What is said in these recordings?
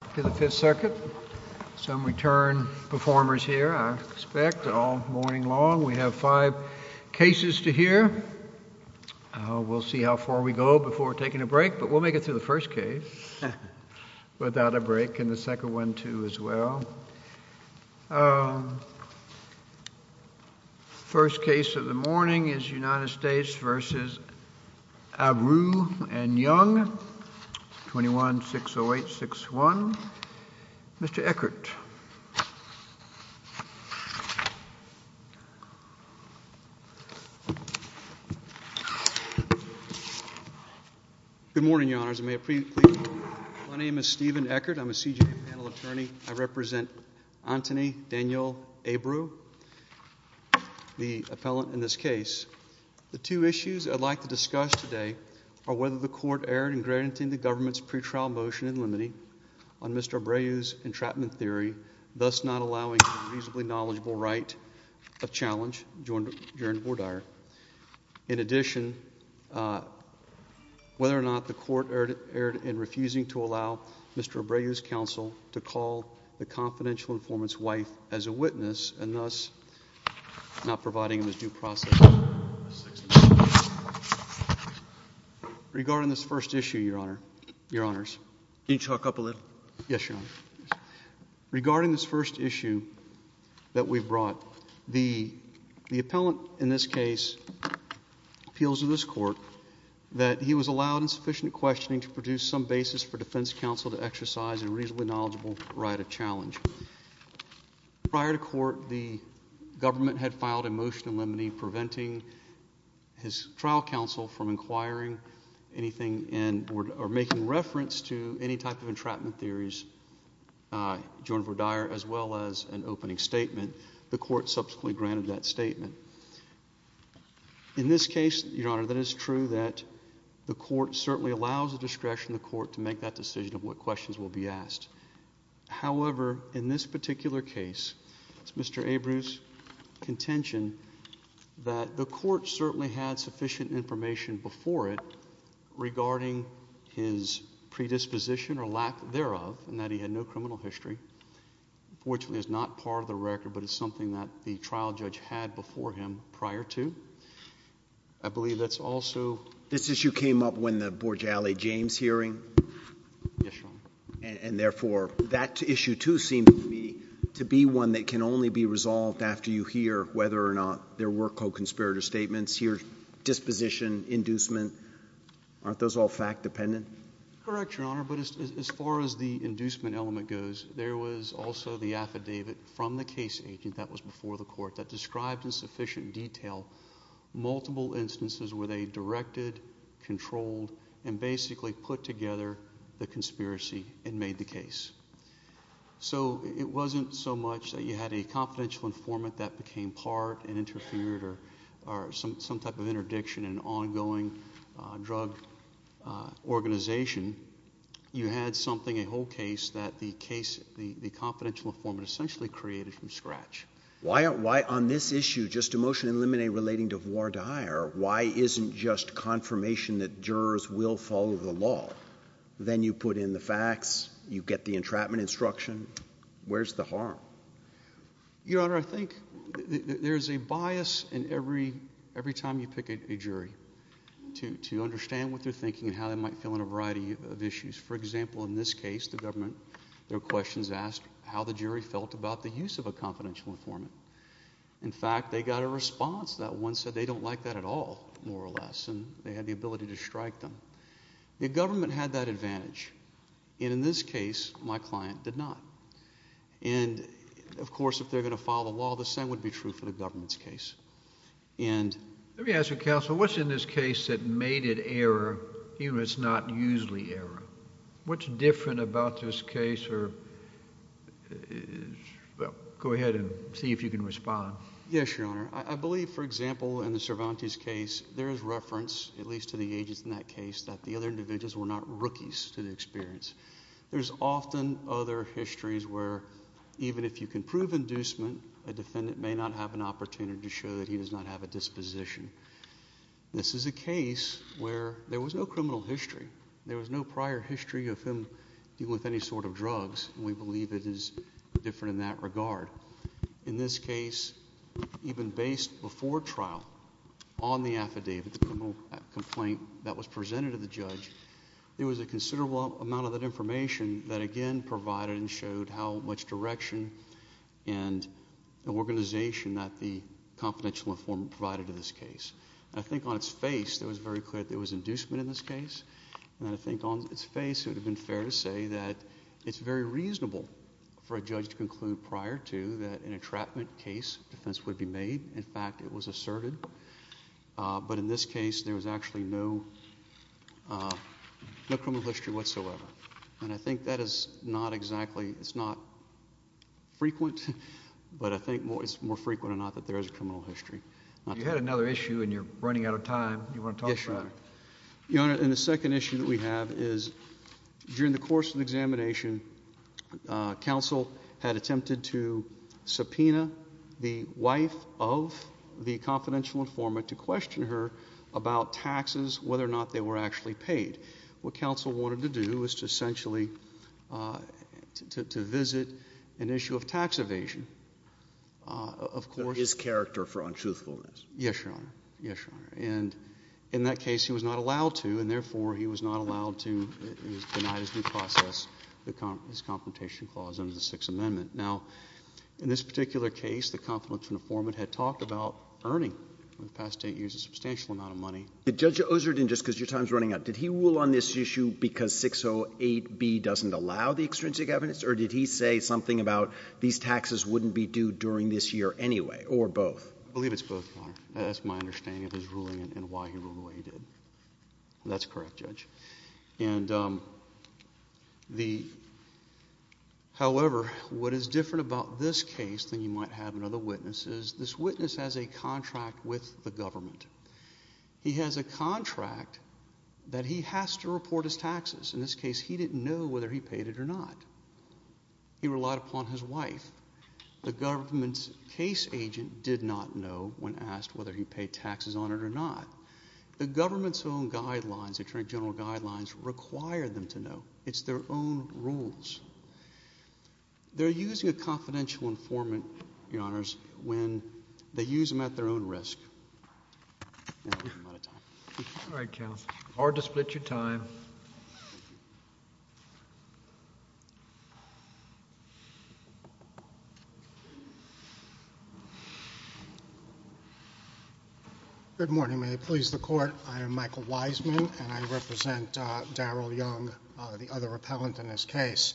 and Young, 21-608-61. We have five cases to hear. We'll see how far we go before taking a break, but we'll make it through the first case without a break, and the second one too as well. The first case of the morning is United States v. Abreu and Young, 21-608-61. Mr. Eckert. Good morning, Your Honors. My name is Stephen Eckert. I'm a CJA panel attorney. I represent Antony Daniel Abreu, the appellant in this case. The two issues I'd like to discuss today are whether the court erred in granting the government's pretrial motion in limine on Mr. Abreu's entrapment theory, thus not allowing a reasonably knowledgeable right of challenge, adjourned or dire. In addition, whether or not the court erred in refusing to allow Mr. Abreu's counsel to call the confidential informant's wife as a witness and thus not providing him with due process. Regarding this first issue, Your Honors. Can you talk up a little? Yes, Your Honor. Regarding this first issue that we've brought, the appellant in this case appeals to this court that he was allowed insufficient questioning to produce some basis for defense counsel to exercise a reasonably knowledgeable right of challenge. Prior to court, the government had filed a motion in limine preventing his trial counsel from inquiring anything or making reference to any type of entrapment theories adjourned or dire as well as an opening statement. The court subsequently granted that statement. In this case, Your Honor, that is true that the court certainly allows the discretion of the court to make that decision of what questions will be asked. However, in this particular case, it's Mr. Abreu's contention that the court certainly had sufficient information before it regarding his predisposition or lack thereof and that he had no criminal history, which is not part of the record, but it's something that the trial judge had before him prior to. I believe that's also... This issue came up when the Borgiale James hearing. Yes, Your Honor. Therefore, that issue too seemed to me to be one that can only be resolved after you hear whether or not there were co-conspirator statements, your disposition, inducement. Aren't those all fact-dependent? Correct, Your Honor, but as far as the inducement element goes, there was also the affidavit from the case agent that was before the court that described in sufficient detail multiple instances where they directed, controlled, and basically put together the conspiracy and made the case. So it wasn't so much that you had a confidential informant that became part and interfered or some type of interdiction in an ongoing drug organization. You had something, a whole case, that the confidential informant essentially created from scratch. Why on this issue, just a motion in limine relating to voir dire, why isn't just confirmation that jurors will follow the law? Then you put in the facts. You get the entrapment instruction. Where's the harm? Your Honor, I think there's a bias in every time you pick a jury to understand what they're thinking and how they might feel on a variety of issues. For example, in this case, the government, their questions asked how the jury felt about the use of a confidential informant. In fact, they got a response that one said they don't like that at all, more or less, and they had the ability to strike them. The government had that advantage. In this case, my client did not. Of course, if they're going to follow the law, the same would be true for the government's case. Let me ask you, Counsel, what's in this case that made it error even though it's not usually error? What's different about this case? Go ahead and see if you can respond. Yes, Your Honor. I believe, for example, in the Cervantes case, there is reference, at least to the agents in that case, that the other individuals were not rookies to the experience. There's often other histories where even if you can prove inducement, a defendant may not have an opportunity to show that he does not have a disposition. This is a case where there was no criminal history. There was no prior history of him dealing with any sort of drugs. We believe it is different in that regard. In this case, even based before trial on the affidavit, the criminal complaint that was presented to the judge, there was a considerable amount of that information that, again, provided and showed how much direction and organization that the confidential informant provided to this case. I think on its face, it was very clear that there was inducement in this case. I think on its face, it would have been fair to say that it's very reasonable for a judge to conclude prior to that an entrapment case defense would be made. In fact, it was asserted. But in this case, there was actually no criminal history whatsoever. And I think that is not exactly, it's not frequent, but I think it's more frequent or not that there is a criminal history. You had another issue and you're running out of time. You want to talk about it? Yes, Your Honor. Yes, Your Honor. And the second issue that we have is during the course of the examination, counsel had attempted to subpoena the wife of the confidential informant to question her about taxes, whether or not they were actually paid. What counsel wanted to do was to essentially, to visit an issue of tax evasion, of course. His character for untruthfulness. Yes, Your Honor. Yes, Your Honor. And in that case, he was not allowed to. And therefore, he was not allowed to, he was denied his due process, his confrontation clause under the Sixth Amendment. Now, in this particular case, the confidential informant had talked about earning in the past eight years a substantial amount of money. Judge Oserden, just because your time is running out, did he rule on this issue because 608B doesn't allow the extrinsic evidence? Or did he say something about these taxes wouldn't be due during this year anyway, or both? I believe it's both, Your Honor. That's my understanding of his ruling and why he ruled the way he did. That's correct, Judge. However, what is different about this case than you might have in other witnesses, this witness has a contract with the government. He has a contract that he has to report his taxes. In this case, he didn't know whether he paid it or not. He relied upon his wife. The government's case agent did not know when asked whether he paid taxes on it or not. The government's own guidelines, attorney general guidelines, require them to know. It's their own rules. They're using a confidential informant, Your Honors, when they use them at their own risk. All right, counsel. Hard to split your time. Your Honor. Good morning. May it please the court, I am Michael Wiseman, and I represent Daryl Young, the other appellant in this case.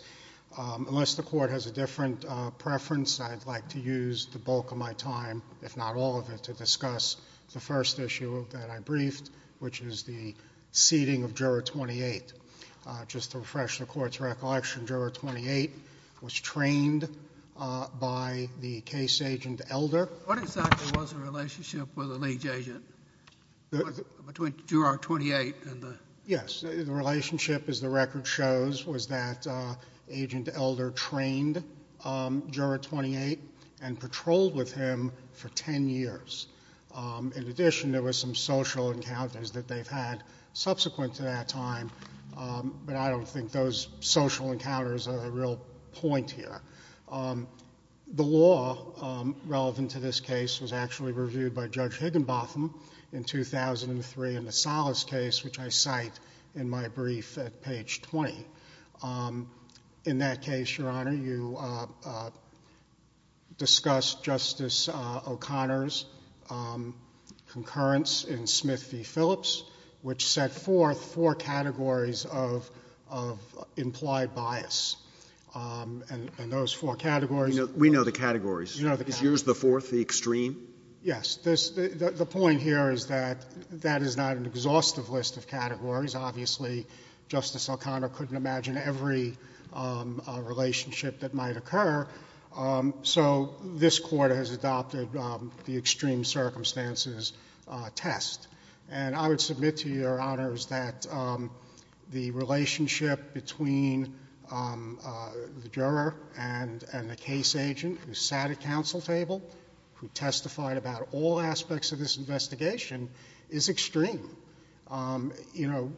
Unless the court has a different preference, I'd like to use the bulk of my time, if not all of it, to discuss the first issue that I briefed, which is the seating of Juror 28. Just to refresh the court's recollection, Juror 28 was trained by the case agent Elder. What exactly was the relationship with the liege agent, between Juror 28 and the— Yes. The relationship, as the record shows, was that Agent Elder trained Juror 28 and patrolled with him for 10 years. In addition, there were some social encounters that they've had subsequent to that time, but I don't think those social encounters are the real point here. The law relevant to this case was actually reviewed by Judge Higginbotham in 2003 in the Salas case, which I cite in my brief at page 20. In that case, Your Honor, you discussed Justice O'Connor's concurrence in Smith v. Phillips, which set forth four categories of implied bias, and those four categories— We know the categories. You know the categories. Is yours the fourth, the extreme? Yes. The point here is that that is not an exhaustive list of categories. Obviously, Justice O'Connor couldn't imagine every relationship that might occur, so this Court has adopted the extreme circumstances test. And I would submit to Your Honors that the relationship between the juror and the case agent who sat at counsel table, who testified about all aspects of this investigation, is extreme. You know,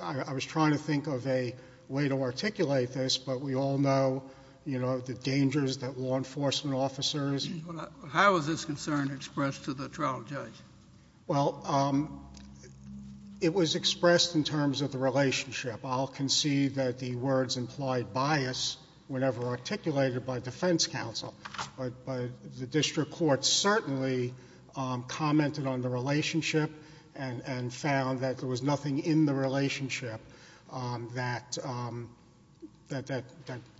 I was trying to think of a way to articulate this, but we all know, you know, the dangers that law enforcement officers— How is this concern expressed to the trial judge? Well, it was expressed in terms of the relationship. I'll concede that the words implied bias were never articulated by defense counsel, but the district court certainly commented on the relationship and found that there was nothing in the relationship that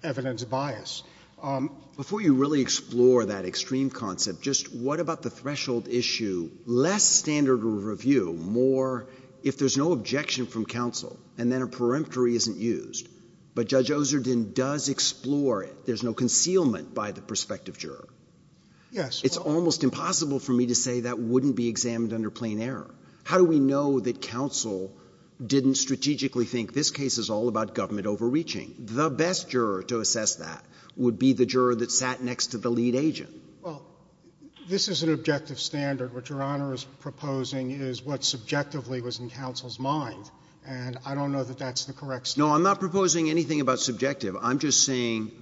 evidenced bias. Before you really explore that extreme concept, just what about the threshold issue? Less standard of review, more if there's no objection from counsel, and then a peremptory isn't used. But Judge Oserden does explore it. There's no concealment by the prospective juror. Yes. It's almost impossible for me to say that wouldn't be examined under plain error. How do we know that counsel didn't strategically think this case is all about government overreaching? The best juror to assess that would be the juror that sat next to the lead agent. Well, this is an objective standard. What Your Honor is proposing is what subjectively was in counsel's mind, and I don't know that that's the correct standard. No, I'm not proposing anything about subjective. I'm just saying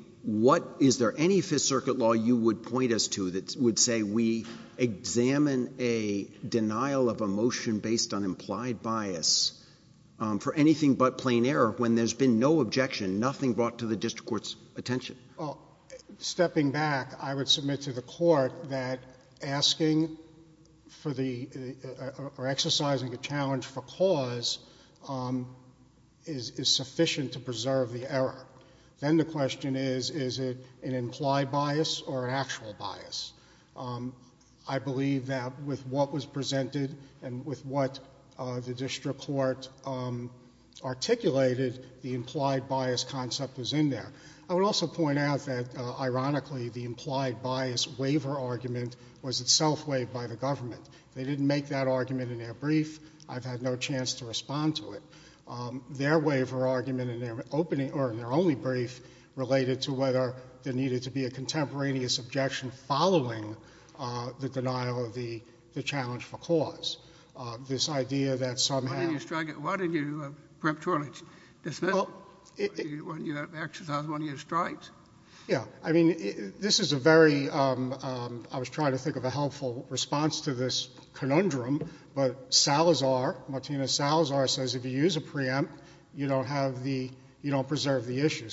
is there any Fifth Circuit law you would point us to that would say we examine a denial of a motion based on implied bias for anything but plain error when there's been no objection, nothing brought to the district court's attention? Stepping back, I would submit to the court that asking for the or exercising a cause is sufficient to preserve the error. Then the question is, is it an implied bias or an actual bias? I believe that with what was presented and with what the district court articulated, the implied bias concept was in there. I would also point out that, ironically, the implied bias waiver argument was itself waived by the government. They didn't make that argument in their brief. I've had no chance to respond to it. Their waiver argument in their opening, or in their only brief, related to whether there needed to be a contemporaneous objection following the denial of the challenge for cause. This idea that somehow... Why didn't you strike it? Why didn't you, perhaps, dismiss it when you exercised one of your strikes? Yeah. I mean, this is a very, I was trying to think of a helpful response to this question. Martina Salazar says, if you use a preempt, you don't preserve the issue.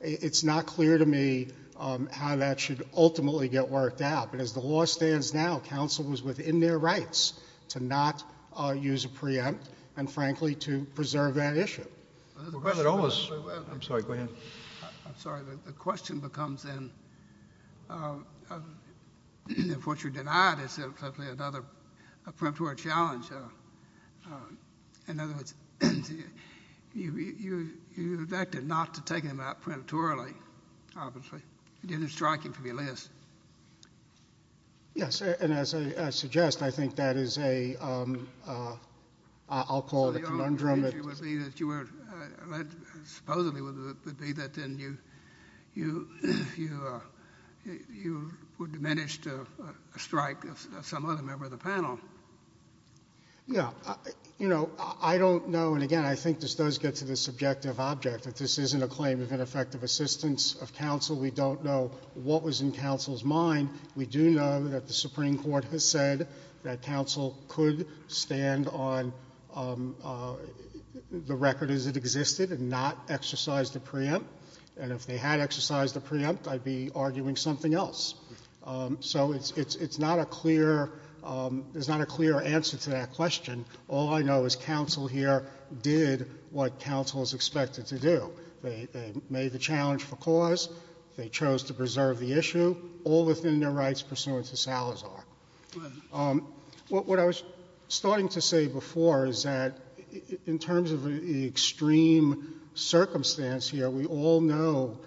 It's not clear to me how that should ultimately get worked out. As the law stands now, counsel was within their rights to not use a preempt and, frankly, to preserve that issue. I'm sorry. Go ahead. I'm sorry. The question becomes then, if what you denied is simply another preemptory challenge, in other words, you acted not to take him out preemptorily, obviously. You didn't strike him from your list. Yes. And as I suggest, I think that is a, I'll call it a conundrum. The only issue would be that you were, supposedly would be that then you would manage to strike some other member of the panel. Yeah. You know, I don't know, and again, I think this does get to the subjective object, that this isn't a claim of ineffective assistance of counsel. We don't know what was in counsel's mind. We do know that the Supreme Court has said that counsel could stand on the record as it existed and not exercise the preempt, and if they had exercised the preempt, I'd be arguing something else. So it's not a clear, there's not a clear answer to that question. All I know is counsel here did what counsel is expected to do. They made the challenge for cause. They chose to preserve the issue, all within their rights pursuant to Salazar. Go ahead. What I was starting to say before is that in terms of the extreme circumstance here, we all know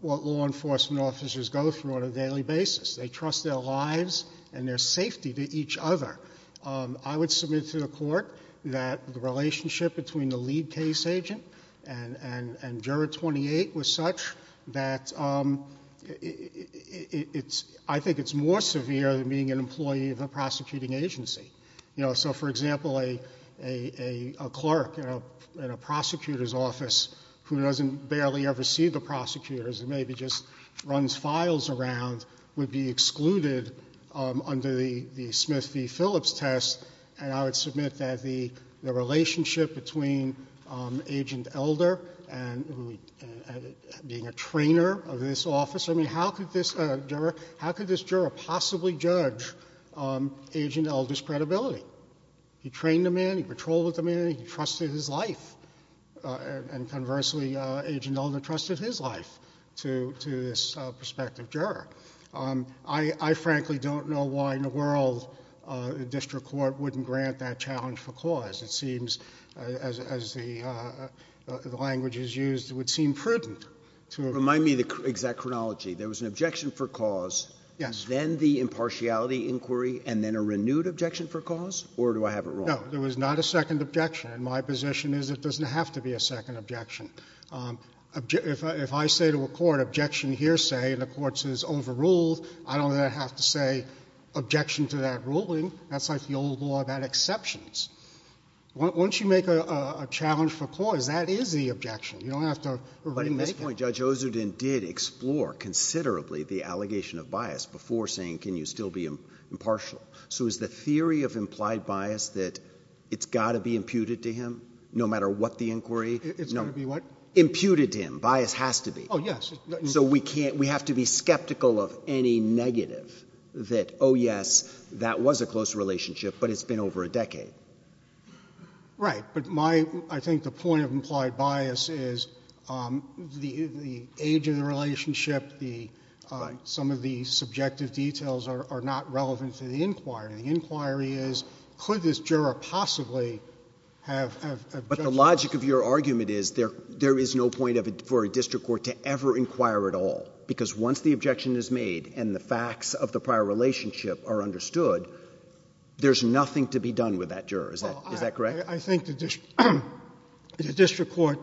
what law enforcement officers go through on a daily basis. They trust their lives and their safety to each other. I would submit to the court that the relationship between the lead case agent and juror 28 was such that it's, I think it's more severe than being an employee of a prosecuting agency. So, for example, a clerk in a prosecutor's office who doesn't barely ever see the prosecutors and maybe just runs files around would be excluded under the Smith v. Phillips test, and I would submit that the relationship between Agent Elder and being a trainer of this office, I mean, how could this juror possibly judge Agent Elder's credibility? He trained a man, he patrolled with a man, he trusted his life, and conversely, Agent Elder trusted his life to this prospective juror. I frankly don't know why in the world the district court wouldn't grant that challenge for cause. It seems, as the language is used, it would seem prudent to... Remind me of the exact chronology. There was an objection for cause... Yes.... then the impartiality inquiry, and then a renewed objection for cause, or do I have it wrong? No. There was not a second objection, and my position is it doesn't have to be a second objection. If I say to a court, objection hearsay, and the court says overruled, I don't have to say objection to that ruling. That's like the old law about exceptions. You don't have to... But at this point, Judge Ozudin did explore considerably the allegation of bias before saying can you still be impartial. So is the theory of implied bias that it's got to be imputed to him, no matter what the inquiry? It's going to be what? Imputed to him. Bias has to be. Oh, yes. So we have to be skeptical of any negative that, oh, yes, that was a close relationship, but it's been over a decade. Right. But my... I think the point of implied bias is the age of the relationship, some of the subjective details are not relevant to the inquiry. The inquiry is could this juror possibly have... But the logic of your argument is there is no point for a district court to ever inquire at all, because once the objection is made and the facts of the prior relationship are understood, there's nothing to be done with that juror. Is that correct? Well, I think the district court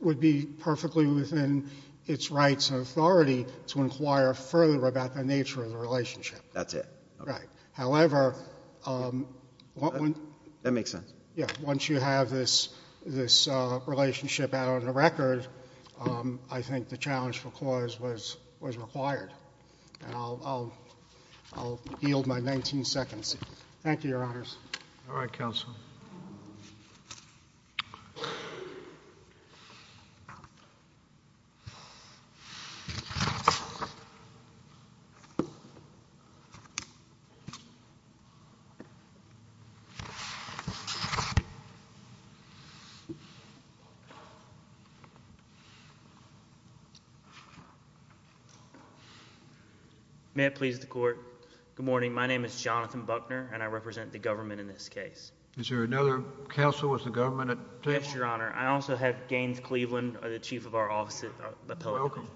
would be perfectly within its rights and authority to inquire further about the nature of the relationship. That's it. Right. However... That makes sense. Yes. Once you have this relationship out on the record, I think the challenge for clause was required. And I'll yield my nineteen seconds. Thank you, Your Honors. All right, counsel. May it please the Court. Good morning. My name is Jonathan Buckner, and I represent the government in this case. Is there another counsel with the government at this time? Yes, Your Honor. I also have Gaines Cleveland, the chief of our office at Appellate Court.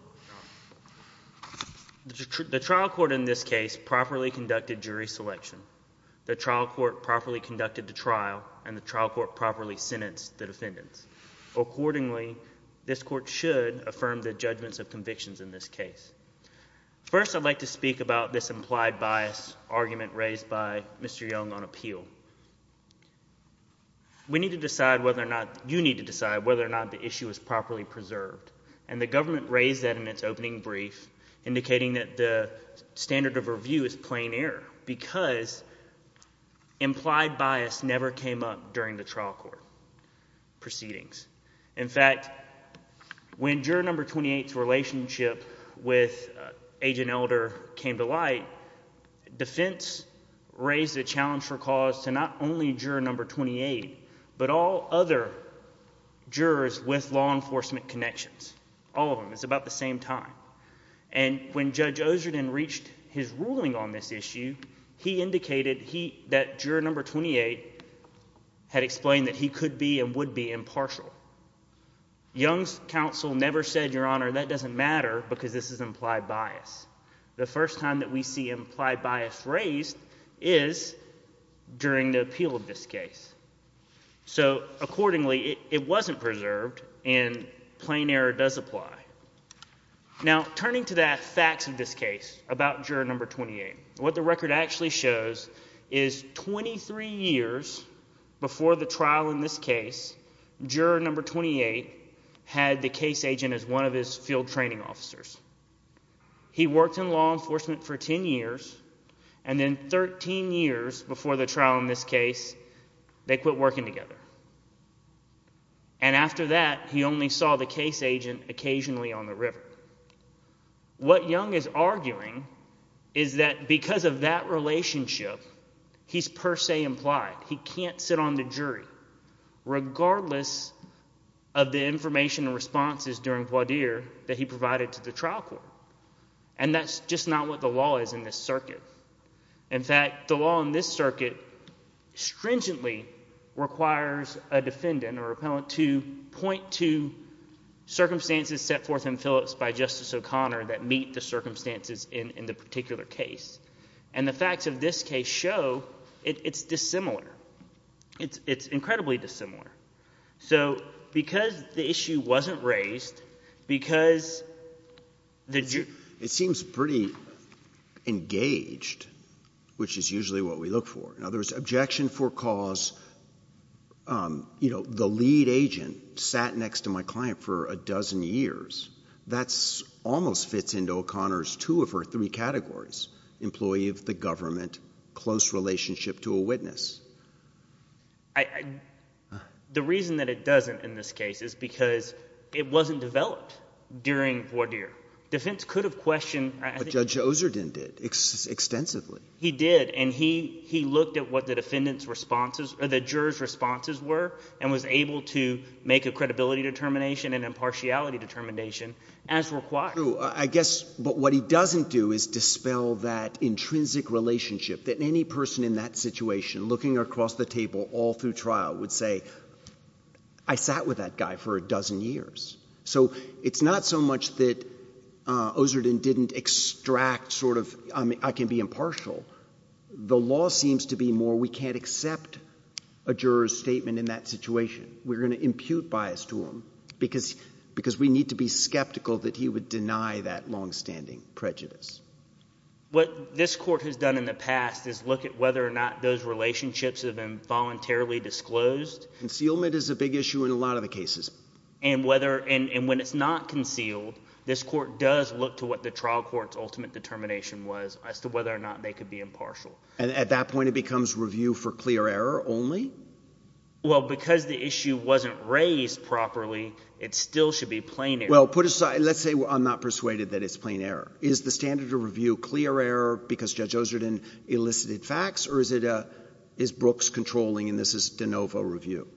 Welcome. The trial court in this case properly conducted jury selection. The trial court properly conducted the trial, and the trial court properly sentenced the defendants. Accordingly, this court should affirm the judgments of convictions in this case. First, I'd like to speak about this implied bias argument raised by Mr. Young on appeal. We need to decide whether or not... you need to decide whether or not the issue is properly preserved. And the government raised that in its opening brief, indicating that the standard of review is plain error because implied bias never came up during the trial court proceedings. In fact, when juror number 28's relationship with Agent Elder came to light, defense raised a challenge for cause to not only juror number 28, but all other jurors with law enforcement connections. All of them. It's about the same time. And when Judge Ozerton reached his ruling on this issue, he indicated that juror number 28 had explained that he could be and would be impartial. Young's counsel never said, Your Honor, that doesn't matter because this is implied bias. The first time that we see implied bias raised is during the appeal of this case. So accordingly, it wasn't preserved, and plain error does apply. Now, turning to the facts of this case about juror number 28, what the record actually shows is 23 years before the trial in this case, juror number 28 had the case agent as one of his field training officers. He worked in law enforcement for 10 years, and then 13 years before the trial in this case, they quit working together. And after that, he only saw the case agent occasionally on the river. What Young is arguing is that because of that relationship, he's per se implied. He can't sit on the jury, regardless of the information and responses during voir dire that he provided to the trial court. And that's just not what the law is in this circuit. In fact, the law in this circuit stringently requires a defendant or a jury to be a juror. And the fact of this case shows that it's dissimilar. It's incredibly dissimilar. So because the issue wasn't raised, because the jury... It seems pretty engaged, which is usually what we look for. In other words, objection for cause, you know, the lead agent sat next to my client for a dozen years. That almost fits into O'Connor's two of her three categories, employee of the government, close relationship to a witness. The reason that it doesn't in this case is because it wasn't developed during voir dire. Defense could have questioned... But Judge Ozerden did, extensively. He did, and he looked at what the defendant's responses, or the juror's responses were, and was able to make a credibility determination and impartiality determination as required. True. I guess, but what he doesn't do is dispel that intrinsic relationship that any person in that situation, looking across the table all through trial, would say, I sat with that guy for a dozen years. So it's not so much that Ozerden didn't extract sort of, I can be impartial. The law seems to be more, we can't accept a juror's statement in that situation. We're going to impute bias to him because we need to be skeptical that he would deny that longstanding prejudice. What this court has done in the past is look at whether or not those relationships have been voluntarily disclosed. Concealment is a big issue in a lot of the cases. And when it's not concealed, this court does look to what the trial court's ultimate determination was as to whether or not they could be impartial. And at that point, it becomes review for clear error only? Well, because the issue wasn't raised properly, it still should be plain error. Well, put aside, let's say I'm not persuaded that it's plain error. Is the standard of review clear error because Judge Ozerden elicited facts? Or is it, is Brooks controlling and this is de novo review?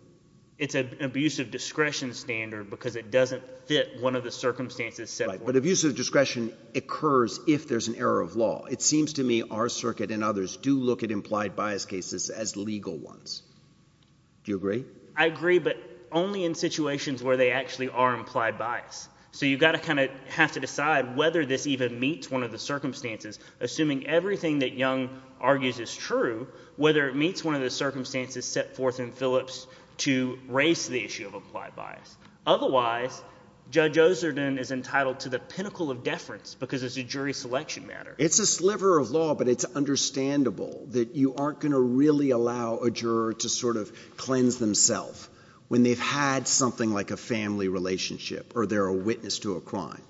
It's an abuse of discretion standard because it doesn't fit one of the circumstances set forth. Right. But abuse of discretion occurs if there's an error of law. It seems to me our circuit and others do look at implied bias cases as legal ones. Do you agree? I agree, but only in situations where they actually are implied bias. So you've got to kind of have to decide whether this even meets one of the circumstances, assuming everything that Young argues is true, whether it meets one of the circumstances set forth in Phillips to raise the issue of applied bias. Otherwise, Judge Ozerden is entitled to the pinnacle of deference because it's a jury selection matter. It's a sliver of law, but it's understandable that you aren't going to really allow a juror to sort of cleanse themselves when they've had something like a family relationship or they're a witness to a crime.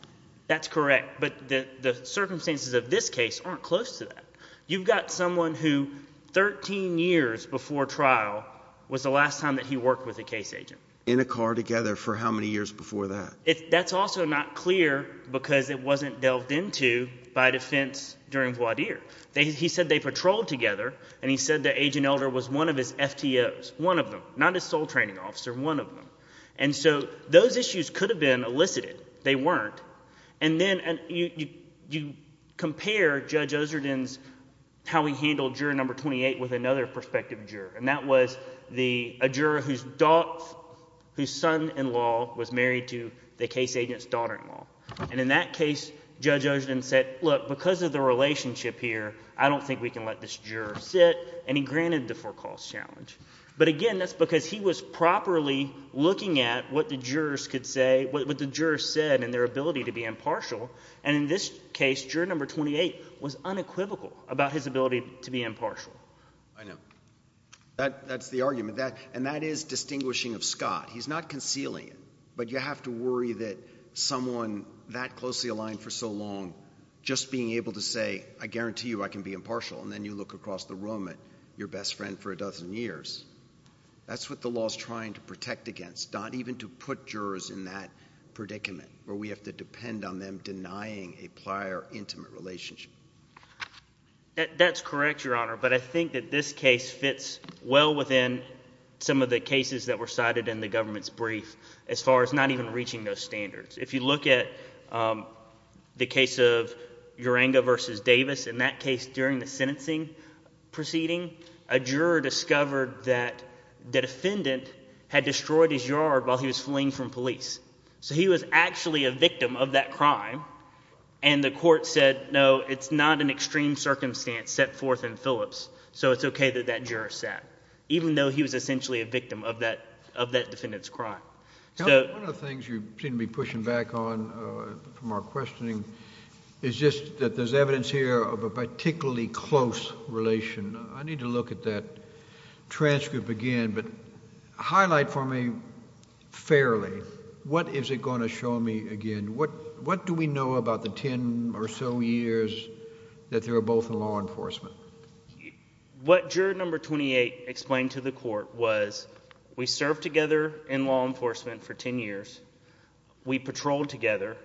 That's correct, but the circumstances of this case aren't close to that. You've got someone who 13 years before trial was the last time that he worked with a case agent. In a car together for how many years before that? That's also not clear because it wasn't delved into by defense during the trial. Judge Ozerden said that Agent Elder was one of his FTOs, one of them, not his sole training officer, one of them. So those issues could have been elicited. They weren't. Then you compare Judge Ozerden's how he handled juror number 28 with another prospective juror, and that was a juror whose son-in-law was married to the case agent's daughter-in-law. In that case, Judge Ozerden said, look, because of the relationship here, I don't think we can let this juror sit, and he granted the forecalls challenge. But, again, that's because he was properly looking at what the jurors could say, what the jurors said and their ability to be impartial, and in this case, juror number 28 was unequivocal about his ability to be impartial. I know. That's the argument, and that is distinguishing of Scott. He's not concealing it, but you have to worry that someone that closely aligned for so long just being able to say, I guarantee you I can be impartial, and then you look across the room at your best friend for a dozen years, that's what the law is trying to protect against, not even to put jurors in that predicament where we have to depend on them denying a prior intimate relationship. That's correct, Your Honor, but I think that this case fits well within some of the cases that were cited in the government's brief as far as not even reaching those standards. If you look at the case of Uranga v. Davis, in that case, during the sentencing proceeding, a juror discovered that the defendant had destroyed his yard while he was fleeing from police. So he was actually a victim of that crime, and the court said, no, it's not an extreme circumstance set forth in Phillips, so it's okay that that juror sat, even though he was essentially a victim of that defendant's crime. One of the things you seem to be pushing back on from our questioning is just that there's evidence here of a particularly close relation. I need to look at that transcript again, but highlight for me fairly, what is it going to show me again? What do we know about the ten or so years that they were both in law enforcement? What juror number 28 explained to the court was we served together in law enforcement for ten years. We patrolled together.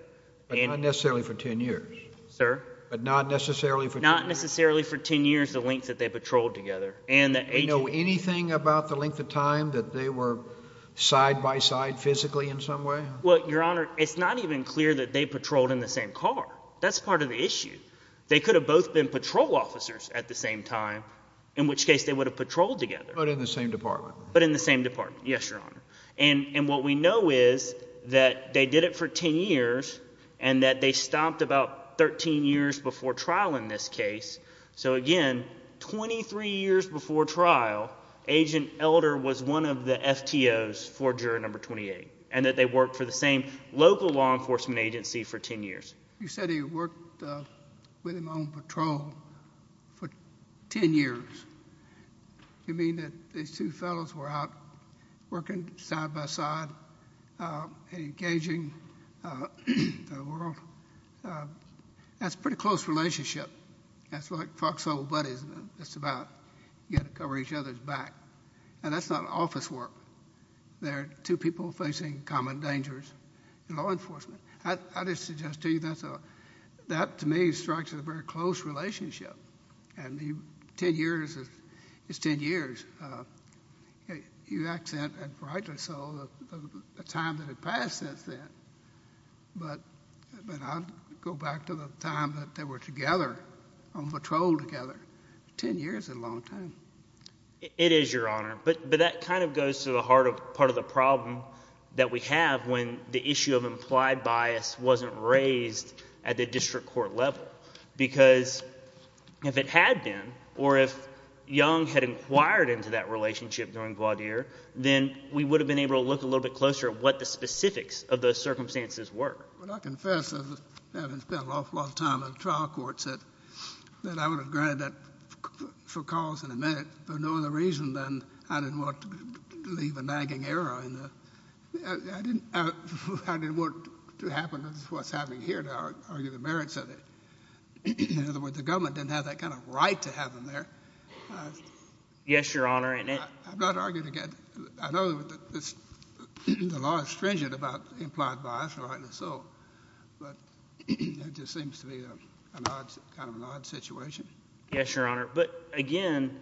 Not necessarily for ten years. Sir? But not necessarily for ten years. Not necessarily for ten years the length that they patrolled together. Do we know anything about the length of time that they were side by side physically in some way? Well, Your Honor, it's not even clear that they patrolled in the same car. That's part of the issue. They could have both been patrol officers at the same time, in which case But in the same department. But in the same department, yes, Your Honor. And what we know is that they did it for ten years and that they stopped about 13 years before trial in this case. So again, 23 years before trial, Agent Elder was one of the FTOs for juror number 28 and that they worked for the same local law enforcement agency for ten years. You said he worked with him on patrol for ten years. You mean that these two fellows were out working side by side, engaging the world? That's a pretty close relationship. That's like foxhole buddies. It's about you got to cover each other's back. And that's not office work. They're two people facing common dangers in law enforcement. I just suggest to you that to me strikes a very close relationship. And ten years is ten years. You accent, and rightly so, the time that had passed since then. But I'll go back to the time that they were together, on patrol together. Ten years is a long time. It is, Your Honor. But that kind of goes to the heart of part of the problem that we have when the issue of implied bias wasn't raised at the district court level. Because if it had been, or if Young had inquired into that relationship during Gwadir, then we would have been able to look a little bit closer at what the specifics of those circumstances were. Well, I confess, having spent an awful lot of time in trial courts, that I would have granted that for cause in a minute for no other reason than I didn't want to leave a nagging error. I didn't want to happen to what's happening here now and argue the merits of it. In other words, the government didn't have that kind of right to have them there. Yes, Your Honor. I'm not arguing against it. I know the law is stringent about implied bias, and rightly so. But it just seems to be kind of an odd situation. Yes, Your Honor. But again,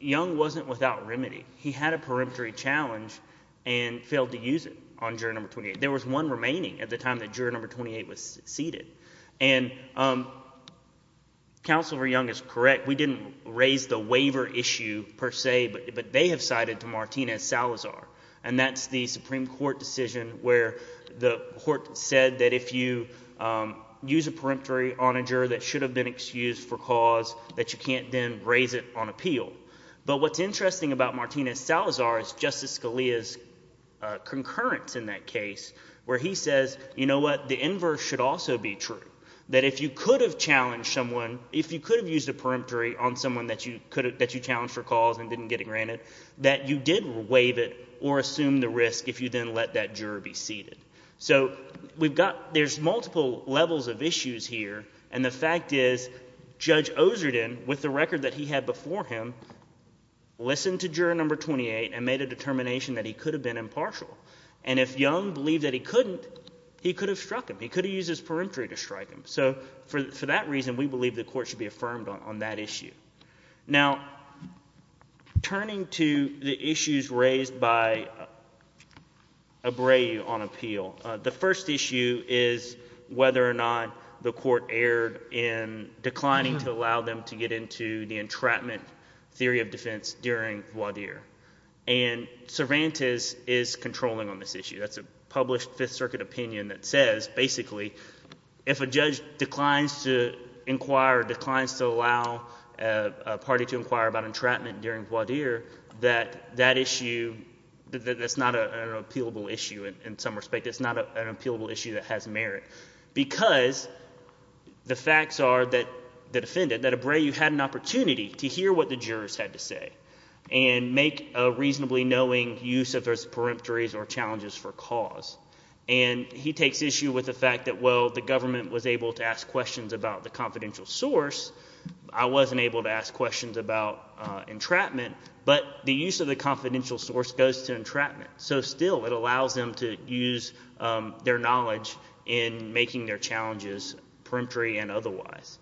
Young wasn't without remedy. He had a peremptory challenge and failed to use it on Juror No. 28. There was one remaining at the time that Juror No. 28 was seated. And Counsel for Young is correct. We didn't raise the waiver issue per se, but they have cited to Martinez-Salazar, and that's the Supreme Court decision where the court said that if you use a peremptory on a juror that should have been excused for cause, that you can't then raise it on appeal. But what's interesting about Martinez-Salazar is Justice Scalia's concurrence in that case where he says, you know what, the inverse should also be true, that if you could have challenged someone, if you could have used a peremptory on someone that you challenged for cause and didn't get it granted, that you did waive it or assume the risk if you then let that juror be seated. So there's multiple levels of issues here, and the fact is Judge Oserden, with the record that he had before him, listened to Juror No. 28 and made a determination that he could have been impartial. And if Young believed that he couldn't, he could have struck him. He could have used his peremptory to strike him. So for that reason, we believe the court should be affirmed on that issue. Now, turning to the issues raised by Abreu on appeal, the first issue is whether or not the court erred in declining to allow them to get into the entrapment theory of defense during voir dire. And Cervantes is controlling on this issue. That's a published Fifth Circuit opinion that says basically if a judge declines to inquire or declines to allow a party to inquire about entrapment during voir dire, that that issue is not an appealable issue in some respect. It's not an appealable issue that has merit because the facts are that the defendant, that Abreu had an opportunity to hear what the jurors had to say and make a reasonably knowing use of those peremptories or challenges for cause. And he takes issue with the fact that, well, the government was able to ask questions about the confidential source. I wasn't able to ask questions about entrapment, but the use of the confidential source goes to entrapment. So still, it allows them to use their knowledge in making their challenges peremptory and otherwise.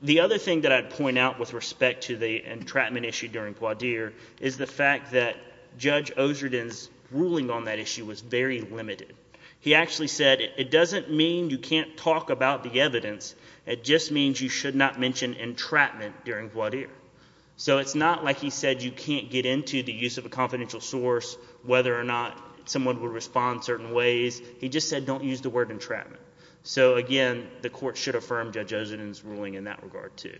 The other thing that I'd point out with respect to the entrapment issue during voir dire is the fact that Judge Ozerden's ruling on that issue was very limited. He actually said it doesn't mean you can't talk about the evidence. It just means you should not mention entrapment during voir dire. So it's not like he said you can't get into the use of a confidential source, whether or not someone would respond certain ways. He just said don't use the word entrapment. So, again, the court should affirm Judge Ozerden's ruling in that regard too.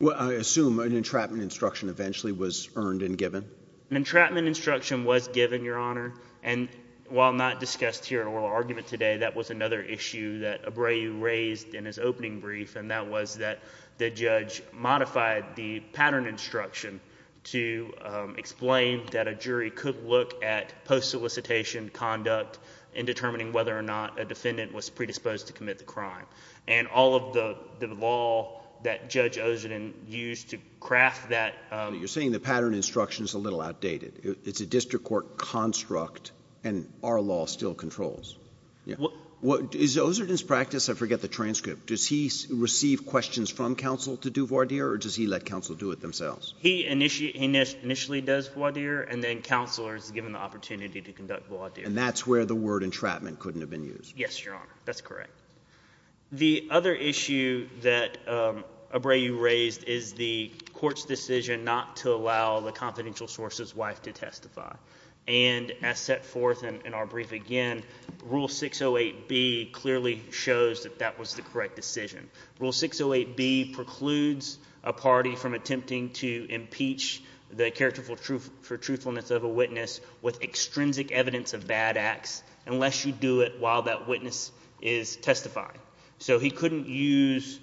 Well, I assume an entrapment instruction eventually was earned and given. An entrapment instruction was given, Your Honor, and while not discussed here in oral argument today, that was another issue that Abreu raised in his opening brief, and that was that the judge modified the pattern instruction to explain that a jury could look at post-solicitation conduct in determining whether or not a defendant was predisposed to commit the crime. And all of the law that Judge Ozerden used to craft that— You're saying the pattern instruction is a little outdated. It's a district court construct, and our law still controls. Is Ozerden's practice—I forget the transcript— does he receive questions from counsel to do voir dire or does he let counsel do it themselves? He initially does voir dire, and then counsel is given the opportunity to conduct voir dire. And that's where the word entrapment couldn't have been used. Yes, Your Honor. That's correct. The other issue that Abreu raised is the court's decision not to allow the confidential source's wife to testify. And as set forth in our brief again, Rule 608B clearly shows that that was the correct decision. Rule 608B precludes a party from attempting to impeach the character for truthfulness of a witness with extrinsic evidence of bad acts unless you do it while that witness is testifying. So he couldn't use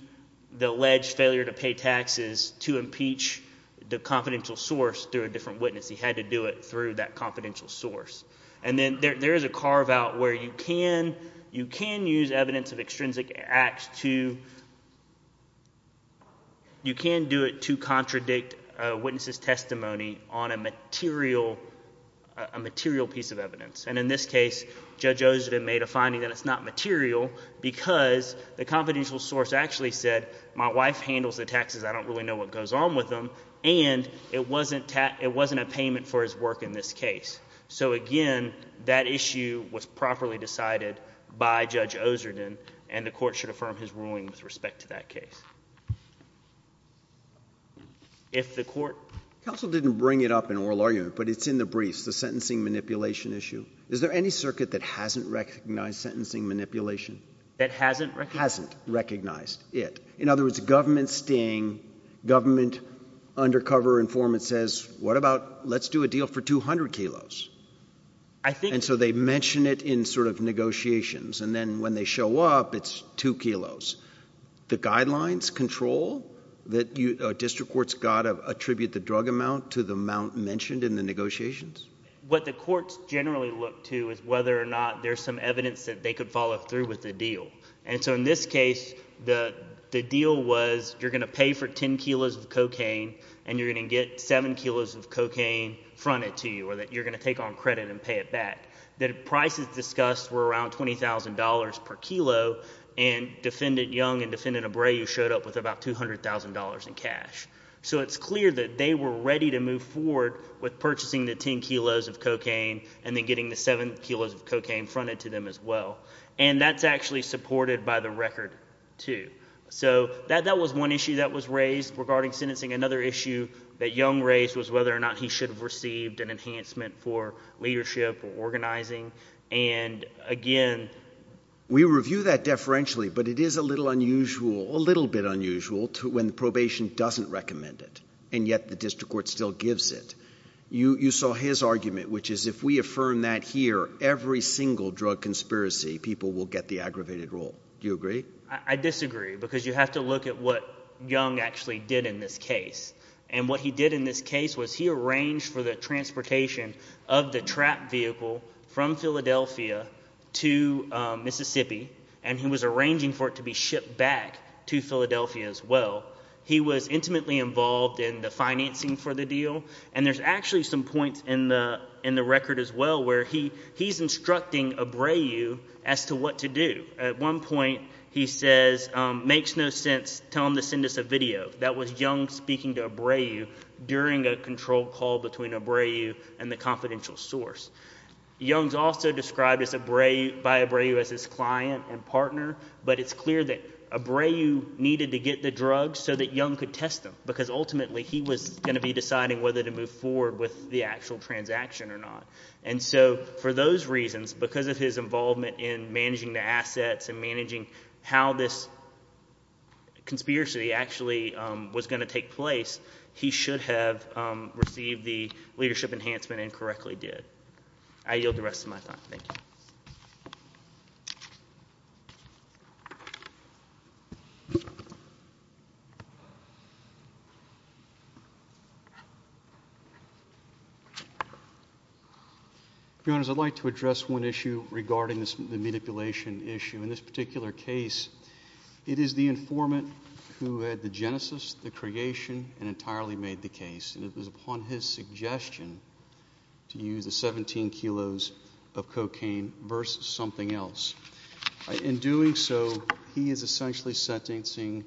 the alleged failure to pay taxes to impeach the confidential source through a different witness. He had to do it through that confidential source. And then there is a carve-out where you can use evidence of extrinsic acts to... You can do it to contradict a witness's testimony on a material piece of evidence. And in this case, Judge Oserden made a finding that it's not material because the confidential source actually said, my wife handles the taxes, I don't really know what goes on with them, and it wasn't a payment for his work in this case. So again, that issue was properly decided by Judge Oserden, and the court should affirm his ruling with respect to that case. If the court... Counsel didn't bring it up in oral argument, but it's in the briefs, the sentencing manipulation issue. Is there any circuit that hasn't recognized sentencing manipulation? That hasn't recognized? Hasn't recognized it. In other words, government sting, government undercover informant says, what about, let's do a deal for 200 kilos. And so they mention it in sort of negotiations, and then when they show up, it's 2 kilos. The guidelines control that district courts got to attribute the drug amount to the amount mentioned in the negotiations? What the courts generally look to is whether or not there's some evidence that they could follow through with the deal. And so in this case, the deal was you're going to pay for 10 kilos of cocaine and you're going to get 7 kilos of cocaine fronted to you, or that you're going to take on credit and pay it back. The prices discussed were around $20,000 per kilo, and Defendant Young and Defendant Abreu showed up with about $200,000 in cash. So it's clear that they were ready to move forward with purchasing the 10 kilos of cocaine and then getting the 7 kilos of cocaine fronted to them as well. And that's actually supported by the record too. So that was one issue that was raised regarding sentencing. Another issue that Young raised was whether or not he should have received an enhancement for leadership or organizing. And again... We review that deferentially, but it is a little unusual, a little bit unusual when probation doesn't recommend it, and yet the district court still gives it. You saw his argument, which is if we affirm that here, every single drug conspiracy, people will get the aggravated rule. Do you agree? I disagree, because you have to look at what Young actually did in this case. And what he did in this case was he arranged for the transportation of the trapped vehicle from Philadelphia to Mississippi, and he was arranging for it to be shipped back to Philadelphia as well. He was intimately involved in the financing for the deal, and there's actually some points in the record as well where he's instructing Abreu as to what to do. At one point he says, Makes no sense, tell them to send us a video. That was Young speaking to Abreu during a control call between Abreu and the confidential source. Young's also described by Abreu as his client and partner, but it's clear that Abreu needed to get the drugs so that Young could test them, because ultimately he was going to be deciding whether to move forward with the actual transaction or not. And so for those reasons, because of his involvement in managing the assets and managing how this conspiracy actually was going to take place, he should have received the leadership enhancement and correctly did. I yield the rest of my time. Thank you. Your Honors, I'd like to address one issue regarding the manipulation issue, and in this particular case it is the informant who had the genesis, the creation, and entirely made the case, and it was upon his suggestion to use the 17 kilos of cocaine versus something else. In doing so, he is essentially sentencing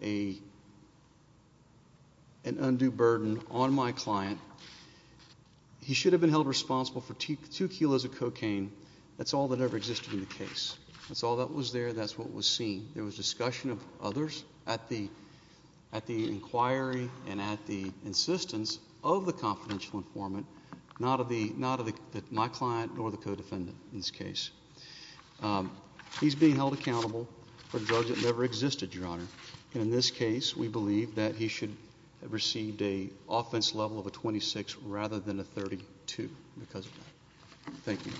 an undue burden on my client. He should have been held responsible for two kilos of cocaine. That's all that ever existed in the case. That's all that was there. That's what was seen. There was discussion of others at the inquiry and at the insistence of the confidential informant, not of my client nor the co-defendant in this case. He's being held accountable for drugs that never existed, Your Honor, and in this case we believe that he should have received an offense level of a 26 rather than a 32 because of that. Thank you.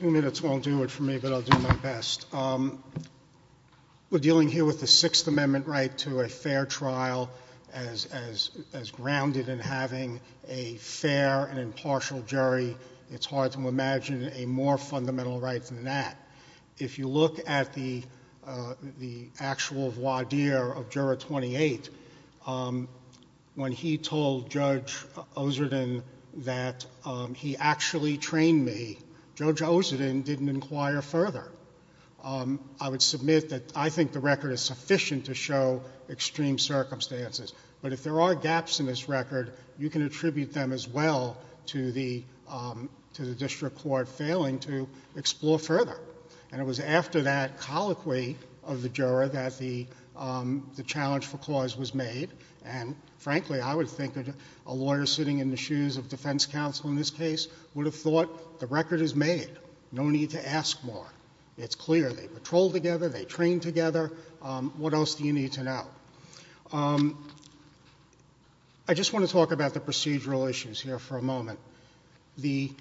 Two minutes won't do it for me, but I'll do my best. We're dealing here with the Sixth Amendment right to a fair trial as grounded in having a fair and impartial jury. It's hard to imagine a more fundamental right than that. If you look at the actual voir dire of Juror 28, when he told Judge Oserden that he actually trained me, Judge Oserden didn't inquire further. I would submit that I think the record is sufficient to show extreme circumstances, but if there are gaps in this record, you can attribute them as well to the district court failing to explore further. It was after that colloquy of the juror that the challenge for cause was made, and frankly I would think that a lawyer sitting in the shoes of defense counsel in this case would have thought the record is made. No need to ask more. It's clear. They patrolled together. They trained together. What else do you need to know? I just want to talk about the procedural issues here for a moment. The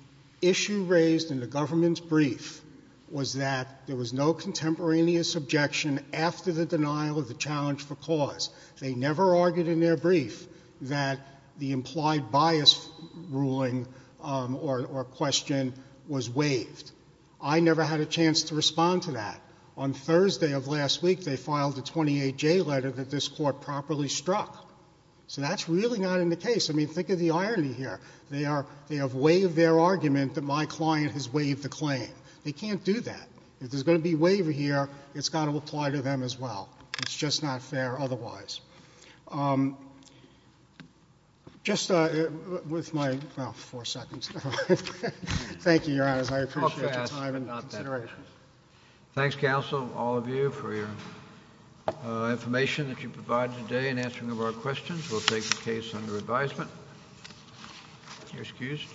issue raised in the government's brief was that there was no contemporaneous objection after the denial of the challenge for cause. They never argued in their brief that the implied bias ruling or question was waived. I never had a chance to respond to that. On Thursday of last week, they filed a 28-J letter that this court properly struck. So that's really not in the case. I mean, think of the irony here. They have waived their argument that my client has waived the claim. They can't do that. If there's going to be waiver here, it's got to apply to them as well. It's just not fair otherwise. Just with my four seconds. Thank you, Your Honor. I appreciate your time and consideration. Thanks, counsel, all of you, for your information that you provided today and answering of our questions. We'll take the case under advisement. You're excused.